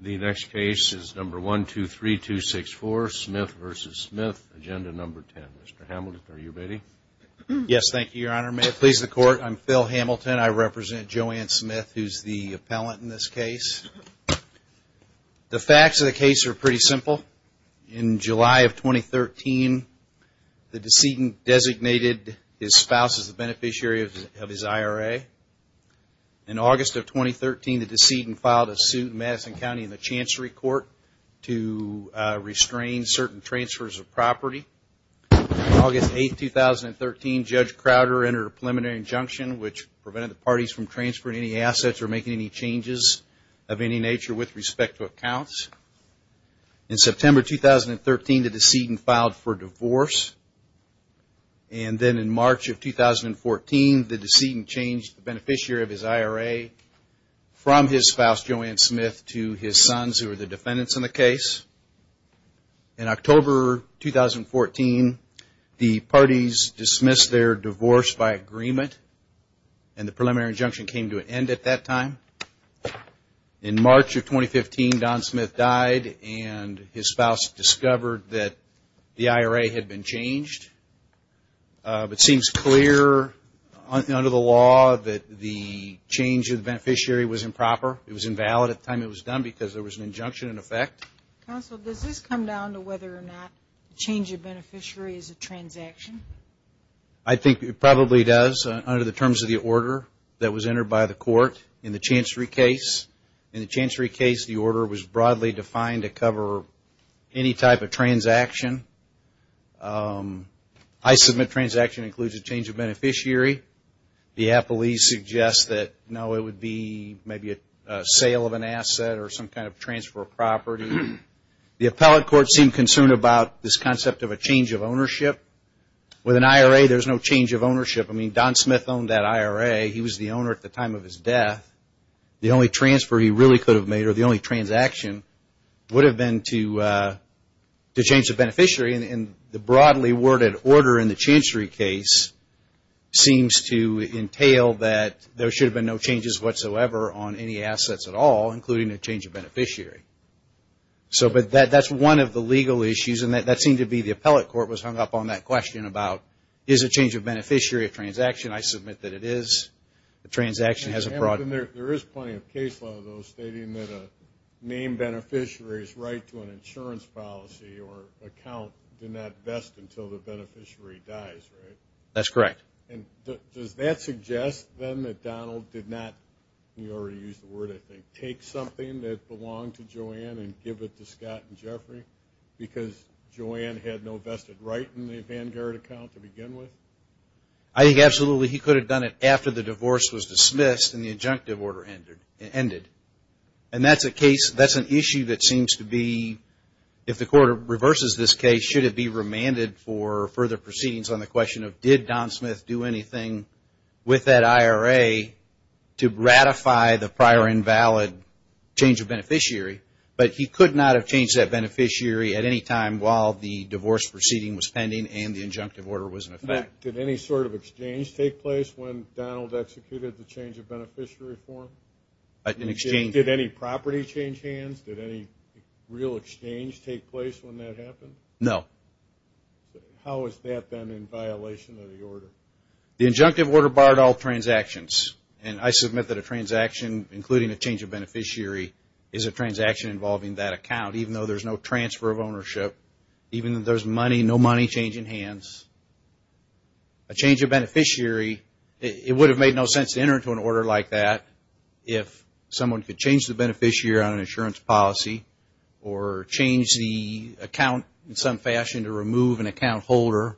The next case is number 123264, Smith v. Smith, Agenda No. 10. Mr. Hamilton, are you ready? Yes, thank you, Your Honor. May it please the Court, I'm Phil Hamilton. I represent Joanne Smith, who's the appellant in this case. The facts of the case are pretty simple. In July of 2013, the decedent designated his spouse as the beneficiary of his IRA. In August of 2013, the decedent filed a suit in Madison County in the Chancery Court to restrain certain transfers of property. On August 8, 2013, Judge Crowder entered a preliminary injunction which prevented the parties from transferring any assets or making any changes of any nature with respect to accounts. In September 2013, the decedent filed for divorce. And then in March of 2014, the decedent changed the beneficiary of his IRA from his spouse, Joanne Smith, to his sons, who are the defendants in the case. In October 2014, the parties dismissed their divorce by agreement, and the preliminary injunction came to an end at that time. In March of 2015, Don Smith died, and his spouse discovered that the IRA had been changed. It seems clear under the law that the change of the beneficiary was improper. It was invalid at the time it was done because there was an injunction in effect. Counsel, does this come down to whether or not the change of beneficiary is a transaction? I think it probably does under the terms of the order that was entered by the court in the Chancery case. In the Chancery case, the order was broadly defined to cover any type of transaction. I submit transaction includes a change of beneficiary. The appellees suggest that, no, it would be maybe a sale of an asset or some kind of transfer of property. The appellate court seemed concerned about this concept of a change of ownership. With an IRA, there's no change of ownership. I mean, Don Smith owned that IRA. He was the owner at the time of his death. The only transfer he really could have made or the only transaction would have been to change the beneficiary. And the broadly worded order in the Chancery case seems to entail that there should have been no changes whatsoever on any assets at all, but that's one of the legal issues, and that seemed to be the appellate court was hung up on that question about, is a change of beneficiary a transaction? I submit that it is. A transaction has a product. There is plenty of case law, though, stating that a named beneficiary's right to an insurance policy or account did not vest until the beneficiary dies, right? That's correct. And does that suggest, then, that Donald did not, you already used the word, I think, take something that belonged to Joanne and give it to Scott and Jeffrey because Joanne had no vested right in the Vanguard account to begin with? I think absolutely. He could have done it after the divorce was dismissed and the injunctive order ended. And that's an issue that seems to be, if the court reverses this case, it should be remanded for further proceedings on the question of, did Don Smith do anything with that IRA to ratify the prior invalid change of beneficiary? But he could not have changed that beneficiary at any time while the divorce proceeding was pending and the injunctive order was in effect. Did any sort of exchange take place when Donald executed the change of beneficiary form? Did any property change hands? Did any real exchange take place when that happened? No. How has that been in violation of the order? The injunctive order barred all transactions. And I submit that a transaction, including a change of beneficiary, is a transaction involving that account, even though there's no transfer of ownership, even if there's money, no money changing hands. A change of beneficiary, it would have made no sense to enter into an order like that if someone could change the beneficiary on an insurance policy or change the account in some fashion to remove an account holder.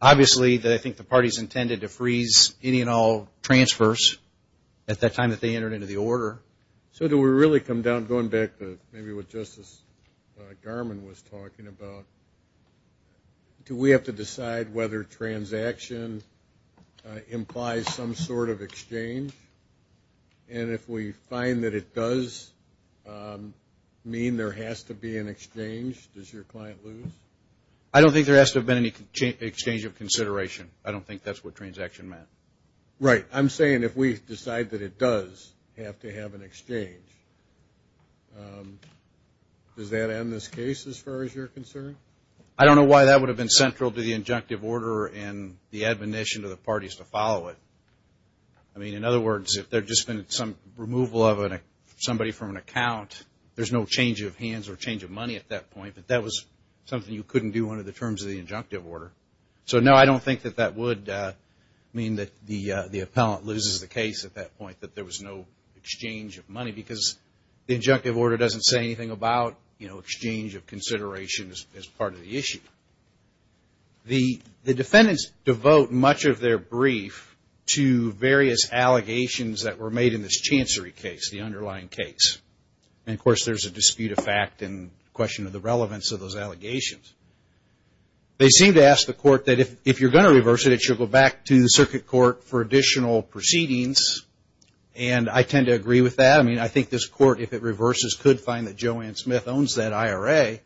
Obviously, I think the parties intended to freeze any and all transfers at that time that they entered into the order. So do we really come down, going back to maybe what Justice Garmon was talking about, do we have to decide whether transaction implies some sort of exchange? And if we find that it does mean there has to be an exchange, does your client lose? I don't think there has to have been any exchange of consideration. I don't think that's what transaction meant. Right. I'm saying if we decide that it does have to have an exchange, does that end this case as far as you're concerned? I don't know why that would have been central to the injunctive order and the admonition to the parties to follow it. I mean, in other words, if there had just been some removal of somebody from an account, there's no change of hands or change of money at that point, but that was something you couldn't do under the terms of the injunctive order. So, no, I don't think that that would mean that the appellant loses the case at that point, that there was no exchange of money because the injunctive order doesn't say anything about, you know, exchange of considerations as part of the issue. The defendants devote much of their brief to various allegations that were made in this chancery case, the underlying case. And, of course, there's a dispute of fact and question of the relevance of those allegations. They seem to ask the court that if you're going to reverse it, you'll go back to the circuit court for additional proceedings, and I tend to agree with that. I mean, I think this court, if it reverses, could find that Joanne Smith owns that IRA,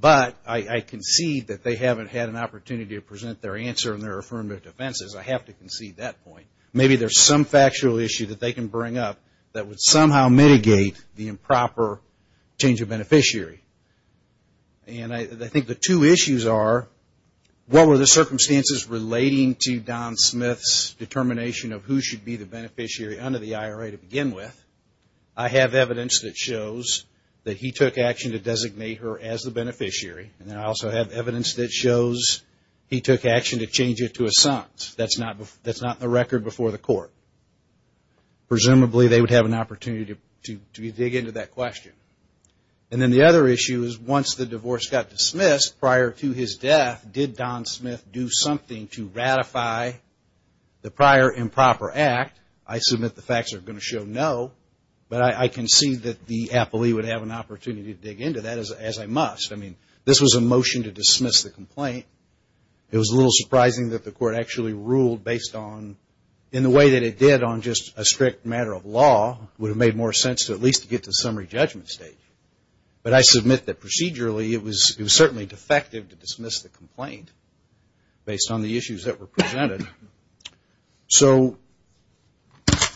but I concede that they haven't had an opportunity to present their answer in their affirmative defense. I have to concede that point. Maybe there's some factual issue that they can bring up that would somehow mitigate the improper change of beneficiary. And I think the two issues are, what were the circumstances relating to Don Smith's determination of who should be the beneficiary under the IRA to begin with? I have evidence that shows that he took action to designate her as the beneficiary, and I also have evidence that shows he took action to change it to a son. That's not the record before the court. Presumably, they would have an opportunity to dig into that question. And then the other issue is, once the divorce got dismissed prior to his death, did Don Smith do something to ratify the prior improper act? I submit the facts are going to show no, but I concede that the appellee would have an opportunity to dig into that, as I must. I mean, this was a motion to dismiss the complaint. It was a little surprising that the court actually ruled based on, in the way that it did on just a strict matter of law, would have made more sense to at least get to the summary judgment stage. But I submit that procedurally, it was certainly defective to dismiss the complaint based on the issues that were presented. So,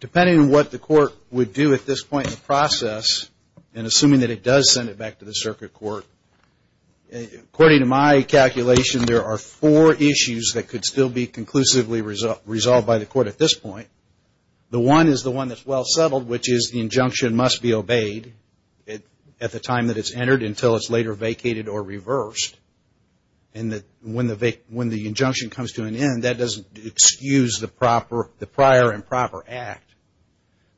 depending on what the court would do at this point in the process, and assuming that it does send it back to the circuit court, according to my calculation, there are four issues that could still be conclusively resolved by the court at this point. The one is the one that's well settled, which is the injunction must be obeyed at the time that it's entered, until it's later vacated or reversed. And when the injunction comes to an end, that doesn't excuse the prior improper act.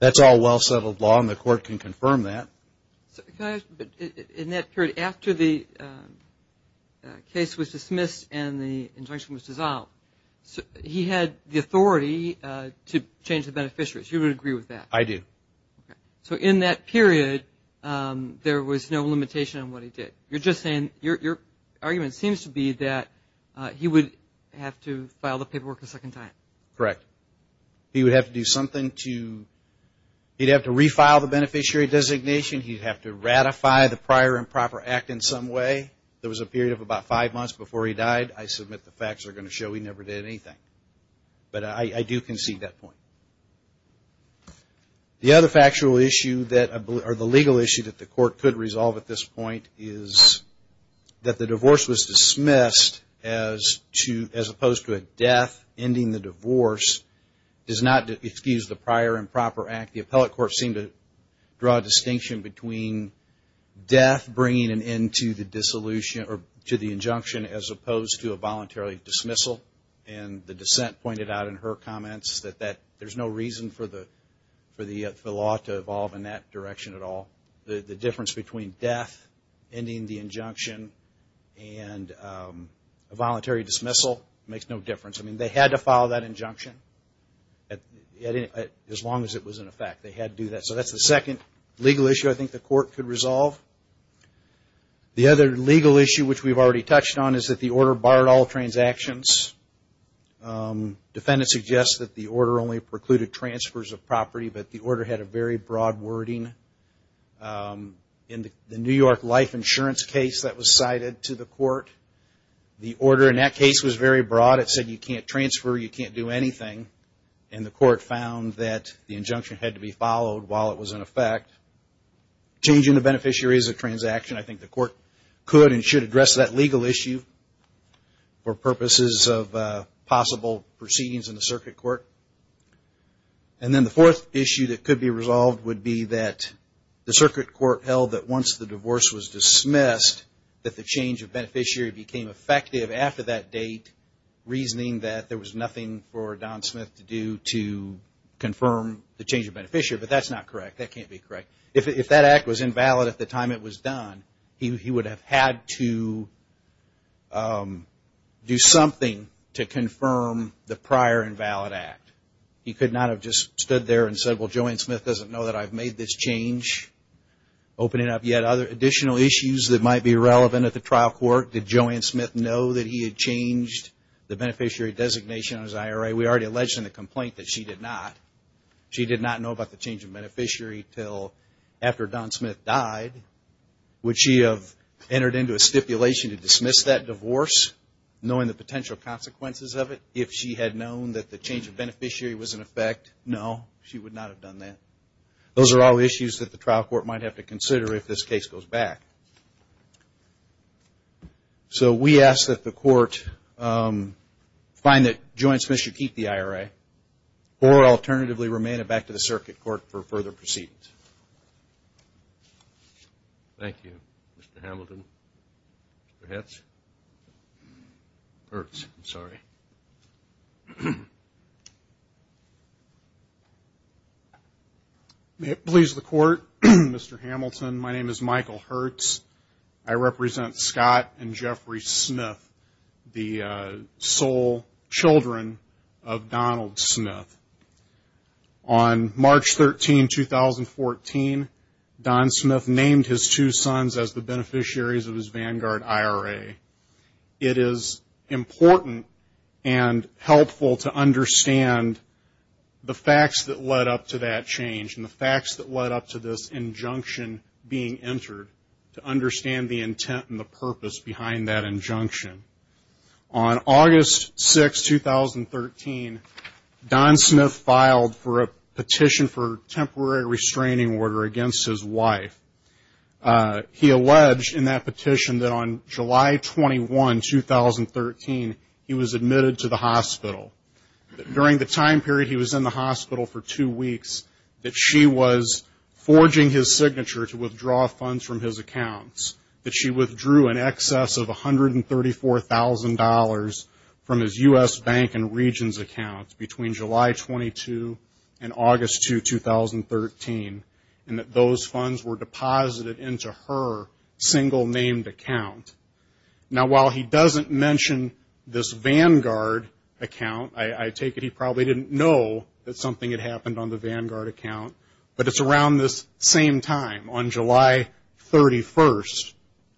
That's all well settled law, and the court can confirm that. But in that period, after the case was dismissed and the injunction was dissolved, he had the authority to change the beneficiaries. You would agree with that? I do. Okay. So, in that period, there was no limitation on what he did. You're just saying your argument seems to be that he would have to file the paperwork a second time. Correct. He would have to do something to, he'd have to refile the beneficiary designation, he'd have to ratify the prior improper act in some way. There was a period of about five months before he died. I submit the facts are going to show he never did anything. But I do concede that point. The other factual issue that, or the legal issue that the court could resolve at this point, is that the divorce was dismissed as opposed to a death. Ending the divorce does not excuse the prior improper act. The appellate court seemed to draw a distinction between death bringing an end to the disillusion, or to the injunction, as opposed to a voluntary dismissal. And the dissent pointed out in her comments that there's no reason for the law to evolve in that direction at all. The difference between death, ending the injunction, and a voluntary dismissal makes no difference. I mean, they had to file that injunction as long as it was in effect. They had to do that. So that's the second legal issue I think the court could resolve. The other legal issue which we've already touched on is that the order barred all transactions. Defendants suggest that the order only precluded transfers of property, but the order had a very broad wording. In the New York life insurance case that was cited to the court, the order in that case was very broad. It said you can't transfer, you can't do anything. And the court found that the injunction had to be followed while it was in effect. Changing the beneficiary is a transaction. I think the court could and should address that legal issue for purposes of possible proceedings in the circuit court. And then the fourth issue that could be resolved would be that the circuit court held that once the divorce was dismissed, that the change of beneficiary became effective after that date, reasoning that there was nothing for Don Smith to do to confirm the change of beneficiary. But that's not correct. That can't be correct. If that act was invalid at the time it was done, he would have had to do something to confirm the prior invalid act. He could not have just stood there and said, well, Joanne Smith doesn't know that I've made this change. Opening up yet other additional issues that might be relevant at the trial court. Did Joanne Smith know that he had changed the beneficiary designation on his IRA? We already alleged in the complaint that she did not. She did not know about the change of beneficiary until after Don Smith died. Would she have entered into a stipulation to dismiss that divorce, knowing the potential consequences of it, if she had known that the change of beneficiary was in effect? No, she would not have done that. Those are all issues that the trial court might have to consider if this case goes back. So we ask that the court find that Joanne Smith should keep the IRA or alternatively remain it back to the circuit court for further proceedings. Thank you, Mr. Hamilton. Mr. Hertz. Hertz, I'm sorry. May it please the court, Mr. Hamilton. My name is Michael Hertz. I represent Scott and Jeffrey Smith, the sole children of Donald Smith. On March 13, 2014, Don Smith named his two sons as the beneficiaries of his Vanguard IRA. It is important and helpful to understand the facts that led up to that change and the facts that led up to this injunction being entered, to understand the intent and the purpose behind that injunction. On August 6, 2013, Don Smith filed for a petition for temporary restraining order against his wife. He alleged in that petition that on July 21, 2013, he was admitted to the hospital. During the time period he was in the hospital for two weeks, that she was forging his signature to withdraw funds from his accounts, that she withdrew in excess of $134,000 from his U.S. Bank and Regions account between July 22 and August 2, 2013, and that those funds were deposited into her single-named account. Now, while he doesn't mention this Vanguard account, I take it he probably didn't know that something had happened on the Vanguard account, but it's around this same time, on July 31,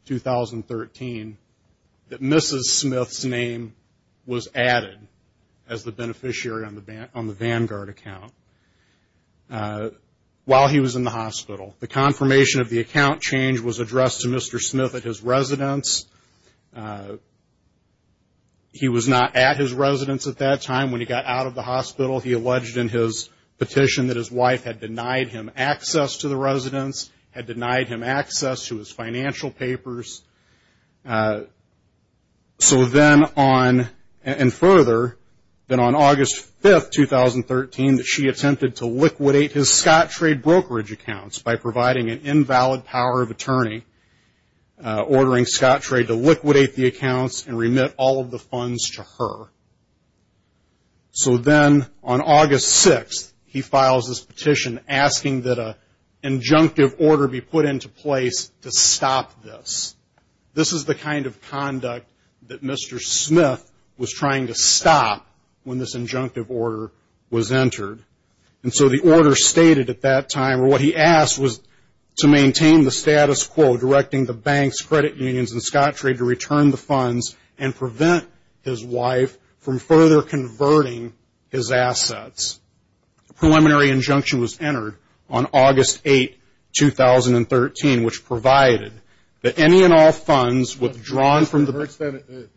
2013, that Mrs. Smith's name was added as the beneficiary on the Vanguard account while he was in the hospital. The confirmation of the account change was addressed to Mr. Smith at his residence. He was not at his residence at that time. When he got out of the hospital, he alleged in his petition that his wife had denied him access to the residence, had denied him access to his financial papers. So then on, and further, then on August 5, 2013, that she attempted to liquidate his Scottrade brokerage accounts by providing an invalid power of attorney, ordering Scottrade to liquidate the accounts and remit all of the funds to her. So then on August 6, he files this petition asking that an injunctive order be put into place to stop this. This is the kind of conduct that Mr. Smith was trying to stop when this injunctive order was entered. And so the order stated at that time, or what he asked was to maintain the status quo, directing the banks, credit unions, and Scottrade to return the funds and prevent his wife from further converting his assets. A preliminary injunction was entered on August 8, 2013, which provided that any and all funds withdrawn from the bank.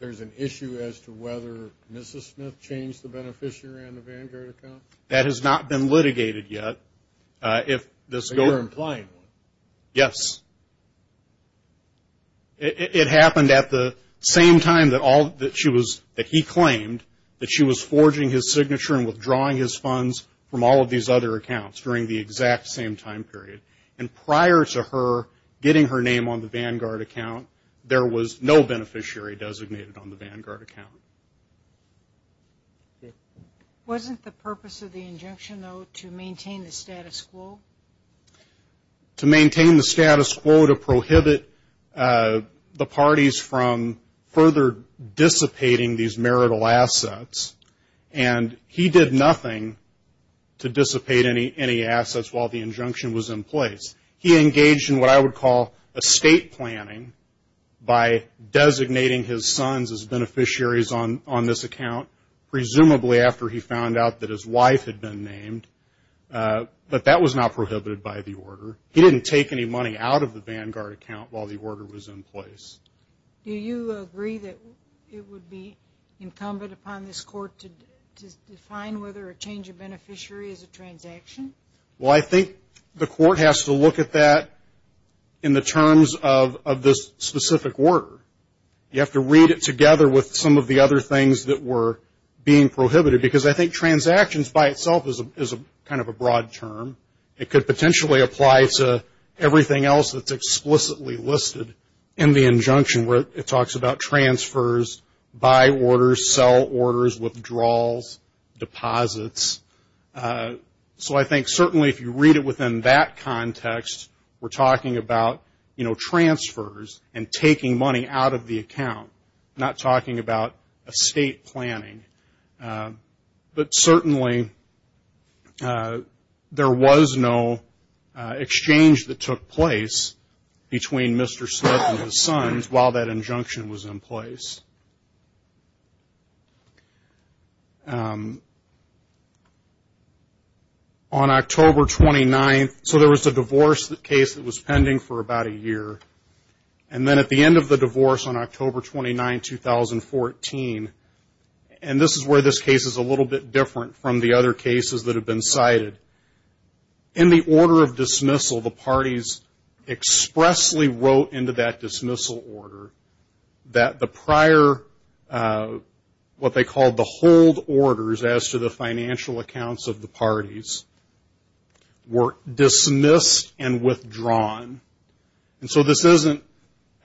There is an issue as to whether Mrs. Smith changed the beneficiary on the Vanguard account? That has not been litigated yet. But you're implying one? Yes. It happened at the same time that he claimed that she was forging his signature and withdrawing his funds from all of these other accounts during the exact same time period. And prior to her getting her name on the Vanguard account, there was no beneficiary designated on the Vanguard account. Wasn't the purpose of the injunction, though, to maintain the status quo? To maintain the status quo to prohibit the parties from further dissipating these marital assets. And he did nothing to dissipate any assets while the injunction was in place. He engaged in what I would call estate planning by designating his sons as beneficiaries on this account, presumably after he found out that his wife had been named. But that was not prohibited by the order. He didn't take any money out of the Vanguard account while the order was in place. Do you agree that it would be incumbent upon this Court to define this specific order? You have to read it together with some of the other things that were being prohibited. Because I think transactions by itself is kind of a broad term. It could potentially apply to everything else that's explicitly listed in the injunction where it talks about transfers, buy orders, sell orders, withdrawals, deposits. So I think certainly if you read it within that context, we're talking about transfers and taking money out of the account, not talking about estate planning. But certainly there was no exchange that took place between Mr. Smith and his sons while that injunction was in place. On October 29th, so there was a divorce case that was pending for about a year. And then at the end of the divorce on October 29, 2014, and this is where this case is a little bit different from the other cases that have been cited. In the order of dismissal, the parties expressly wrote into that dismissal order that the prior, what they called the hold orders as to the financial accounts of the parties were dismissed and withdrawn. And so this isn't,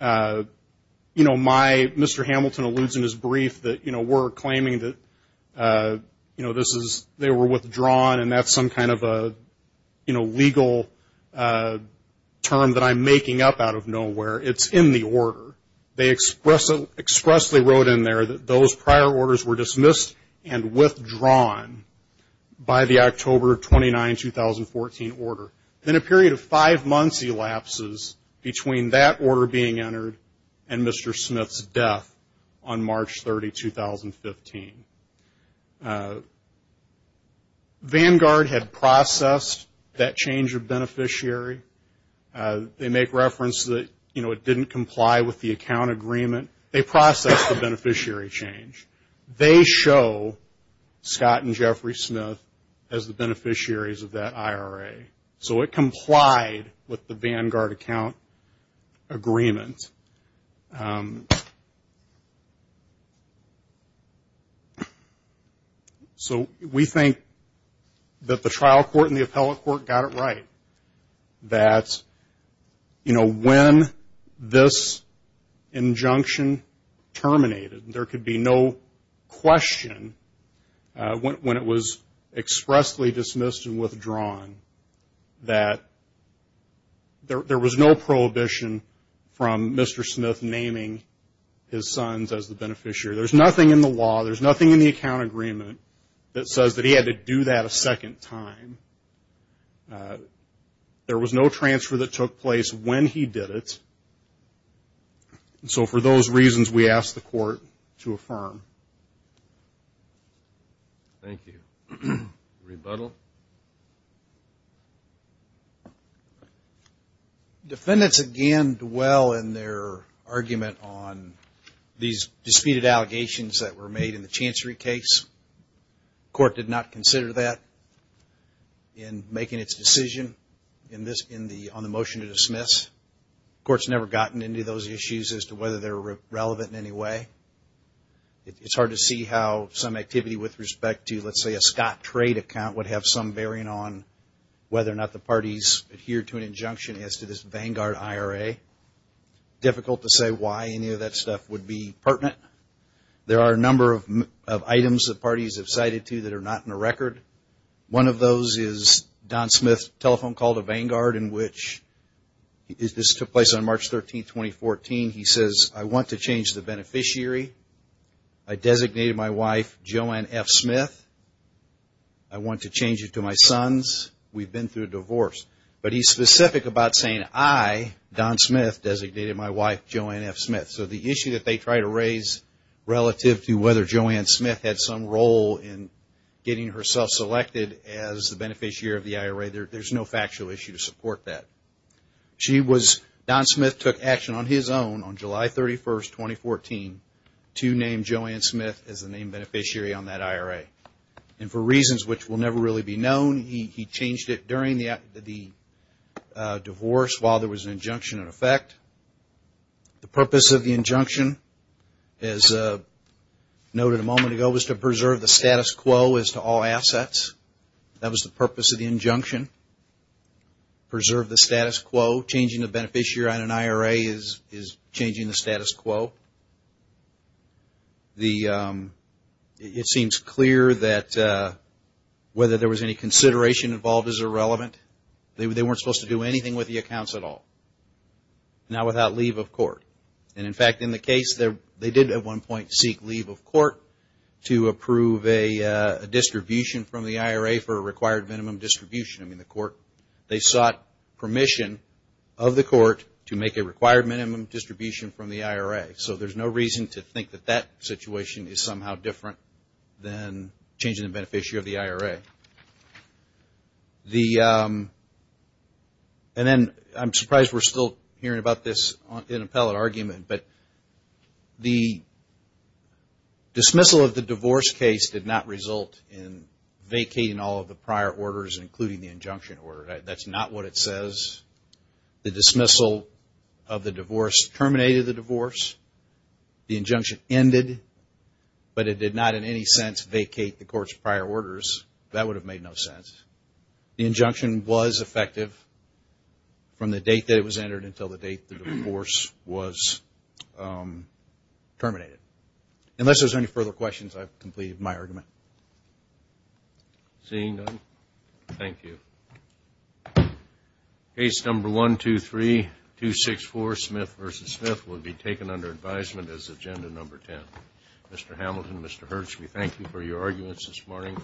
you know, my, Mr. Hamilton alludes in his brief that, you know, we're claiming that, you know, this is, they were withdrawn and that's some kind of a, you know, legal term that I'm making up out of nowhere. It's in the order. They expressly wrote in there that those prior orders were dismissed and withdrawn by the October 29, 2014 order. Then a period of five months elapses between that order being entered and Mr. Smith's death on March 30, 2015. Vanguard had processed that change of beneficiary. They make reference that, you know, it didn't comply with the account agreement. They processed the beneficiary change. They show Scott and Jeffrey Smith as the beneficiaries of that IRA. So it complied with the Vanguard account agreement. So we think that the trial court and the appellate court got it right. That, you know, when this injunction terminated, there could be no question when it was expressly dismissed and withdrawn that there was no prohibition from Mr. Smith naming his sons as the beneficiary. There's nothing in the law. There's nothing in the account agreement that says that he had to do that a second time. There was no transfer that took place when he did it. So for those reasons, we asked the court to affirm. Thank you. Rebuttal. Defendants, again, dwell in their argument on these disputed allegations that were made in the Chancery case. The court did not consider that in making its decision on the motion to dismiss. The court's never gotten into those issues as to whether they're relevant in any way. It's hard to see how some activity with respect to, let's say, a Scott trade account would have some bearing on whether or not the parties adhered to an injunction as to this Vanguard IRA. Difficult to say why any of that stuff would be pertinent. There are a number of items that parties have cited to that are not in the record. One of those is Don Smith's telephone call to Vanguard in which this took place on March 13, 2014. He says, I want to change the beneficiary. I designated my wife Joanne F. Smith. I want to change it to my sons. We've been through a divorce. But he's specific about saying, I, Don Smith, designated my wife Joanne F. Smith. So the issue that they try to raise relative to whether Joanne Smith had some role in getting herself selected as the beneficiary of the IRA, there's no factual issue to support that. Don Smith took action on his own on July 31, 2014 to name Joanne Smith as the name beneficiary on that IRA. And for reasons which will never really be known, he changed it during the divorce while there was an injunction in effect. The purpose of the injunction, as noted a moment ago, was to preserve the status quo as to all assets. That was the purpose of the injunction, preserve the status quo. Changing the beneficiary on an IRA is changing the status quo. It seems clear that whether there was any consideration involved is irrelevant. They weren't supposed to do anything with the accounts at all, not without leave of court. And in fact, in the case, they did at one point seek leave of court to approve a distribution from the IRA for a required minimum distribution. They sought permission of the court to make a required minimum distribution from the IRA. So there's no reason to think that that situation is somehow different than changing the beneficiary of the IRA. I'm surprised we're still hearing about this in appellate argument, but the dismissal of the divorce case did not result in vacating all of the prior orders, including the injunction order. That's not what it says. The dismissal of the divorce terminated the divorce. The injunction ended, but it did not, in any sense, vacate the court's prior orders. That would have made no sense. The injunction was effective from the date that it was entered until the date the divorce was terminated. Unless there's any further questions, I've completed my argument. Thank you. Case number 123264, Smith v. Smith, will be taken under advisement as agenda number 10. Mr. Hamilton, Mr. Hirsch, we thank you for your arguments this morning.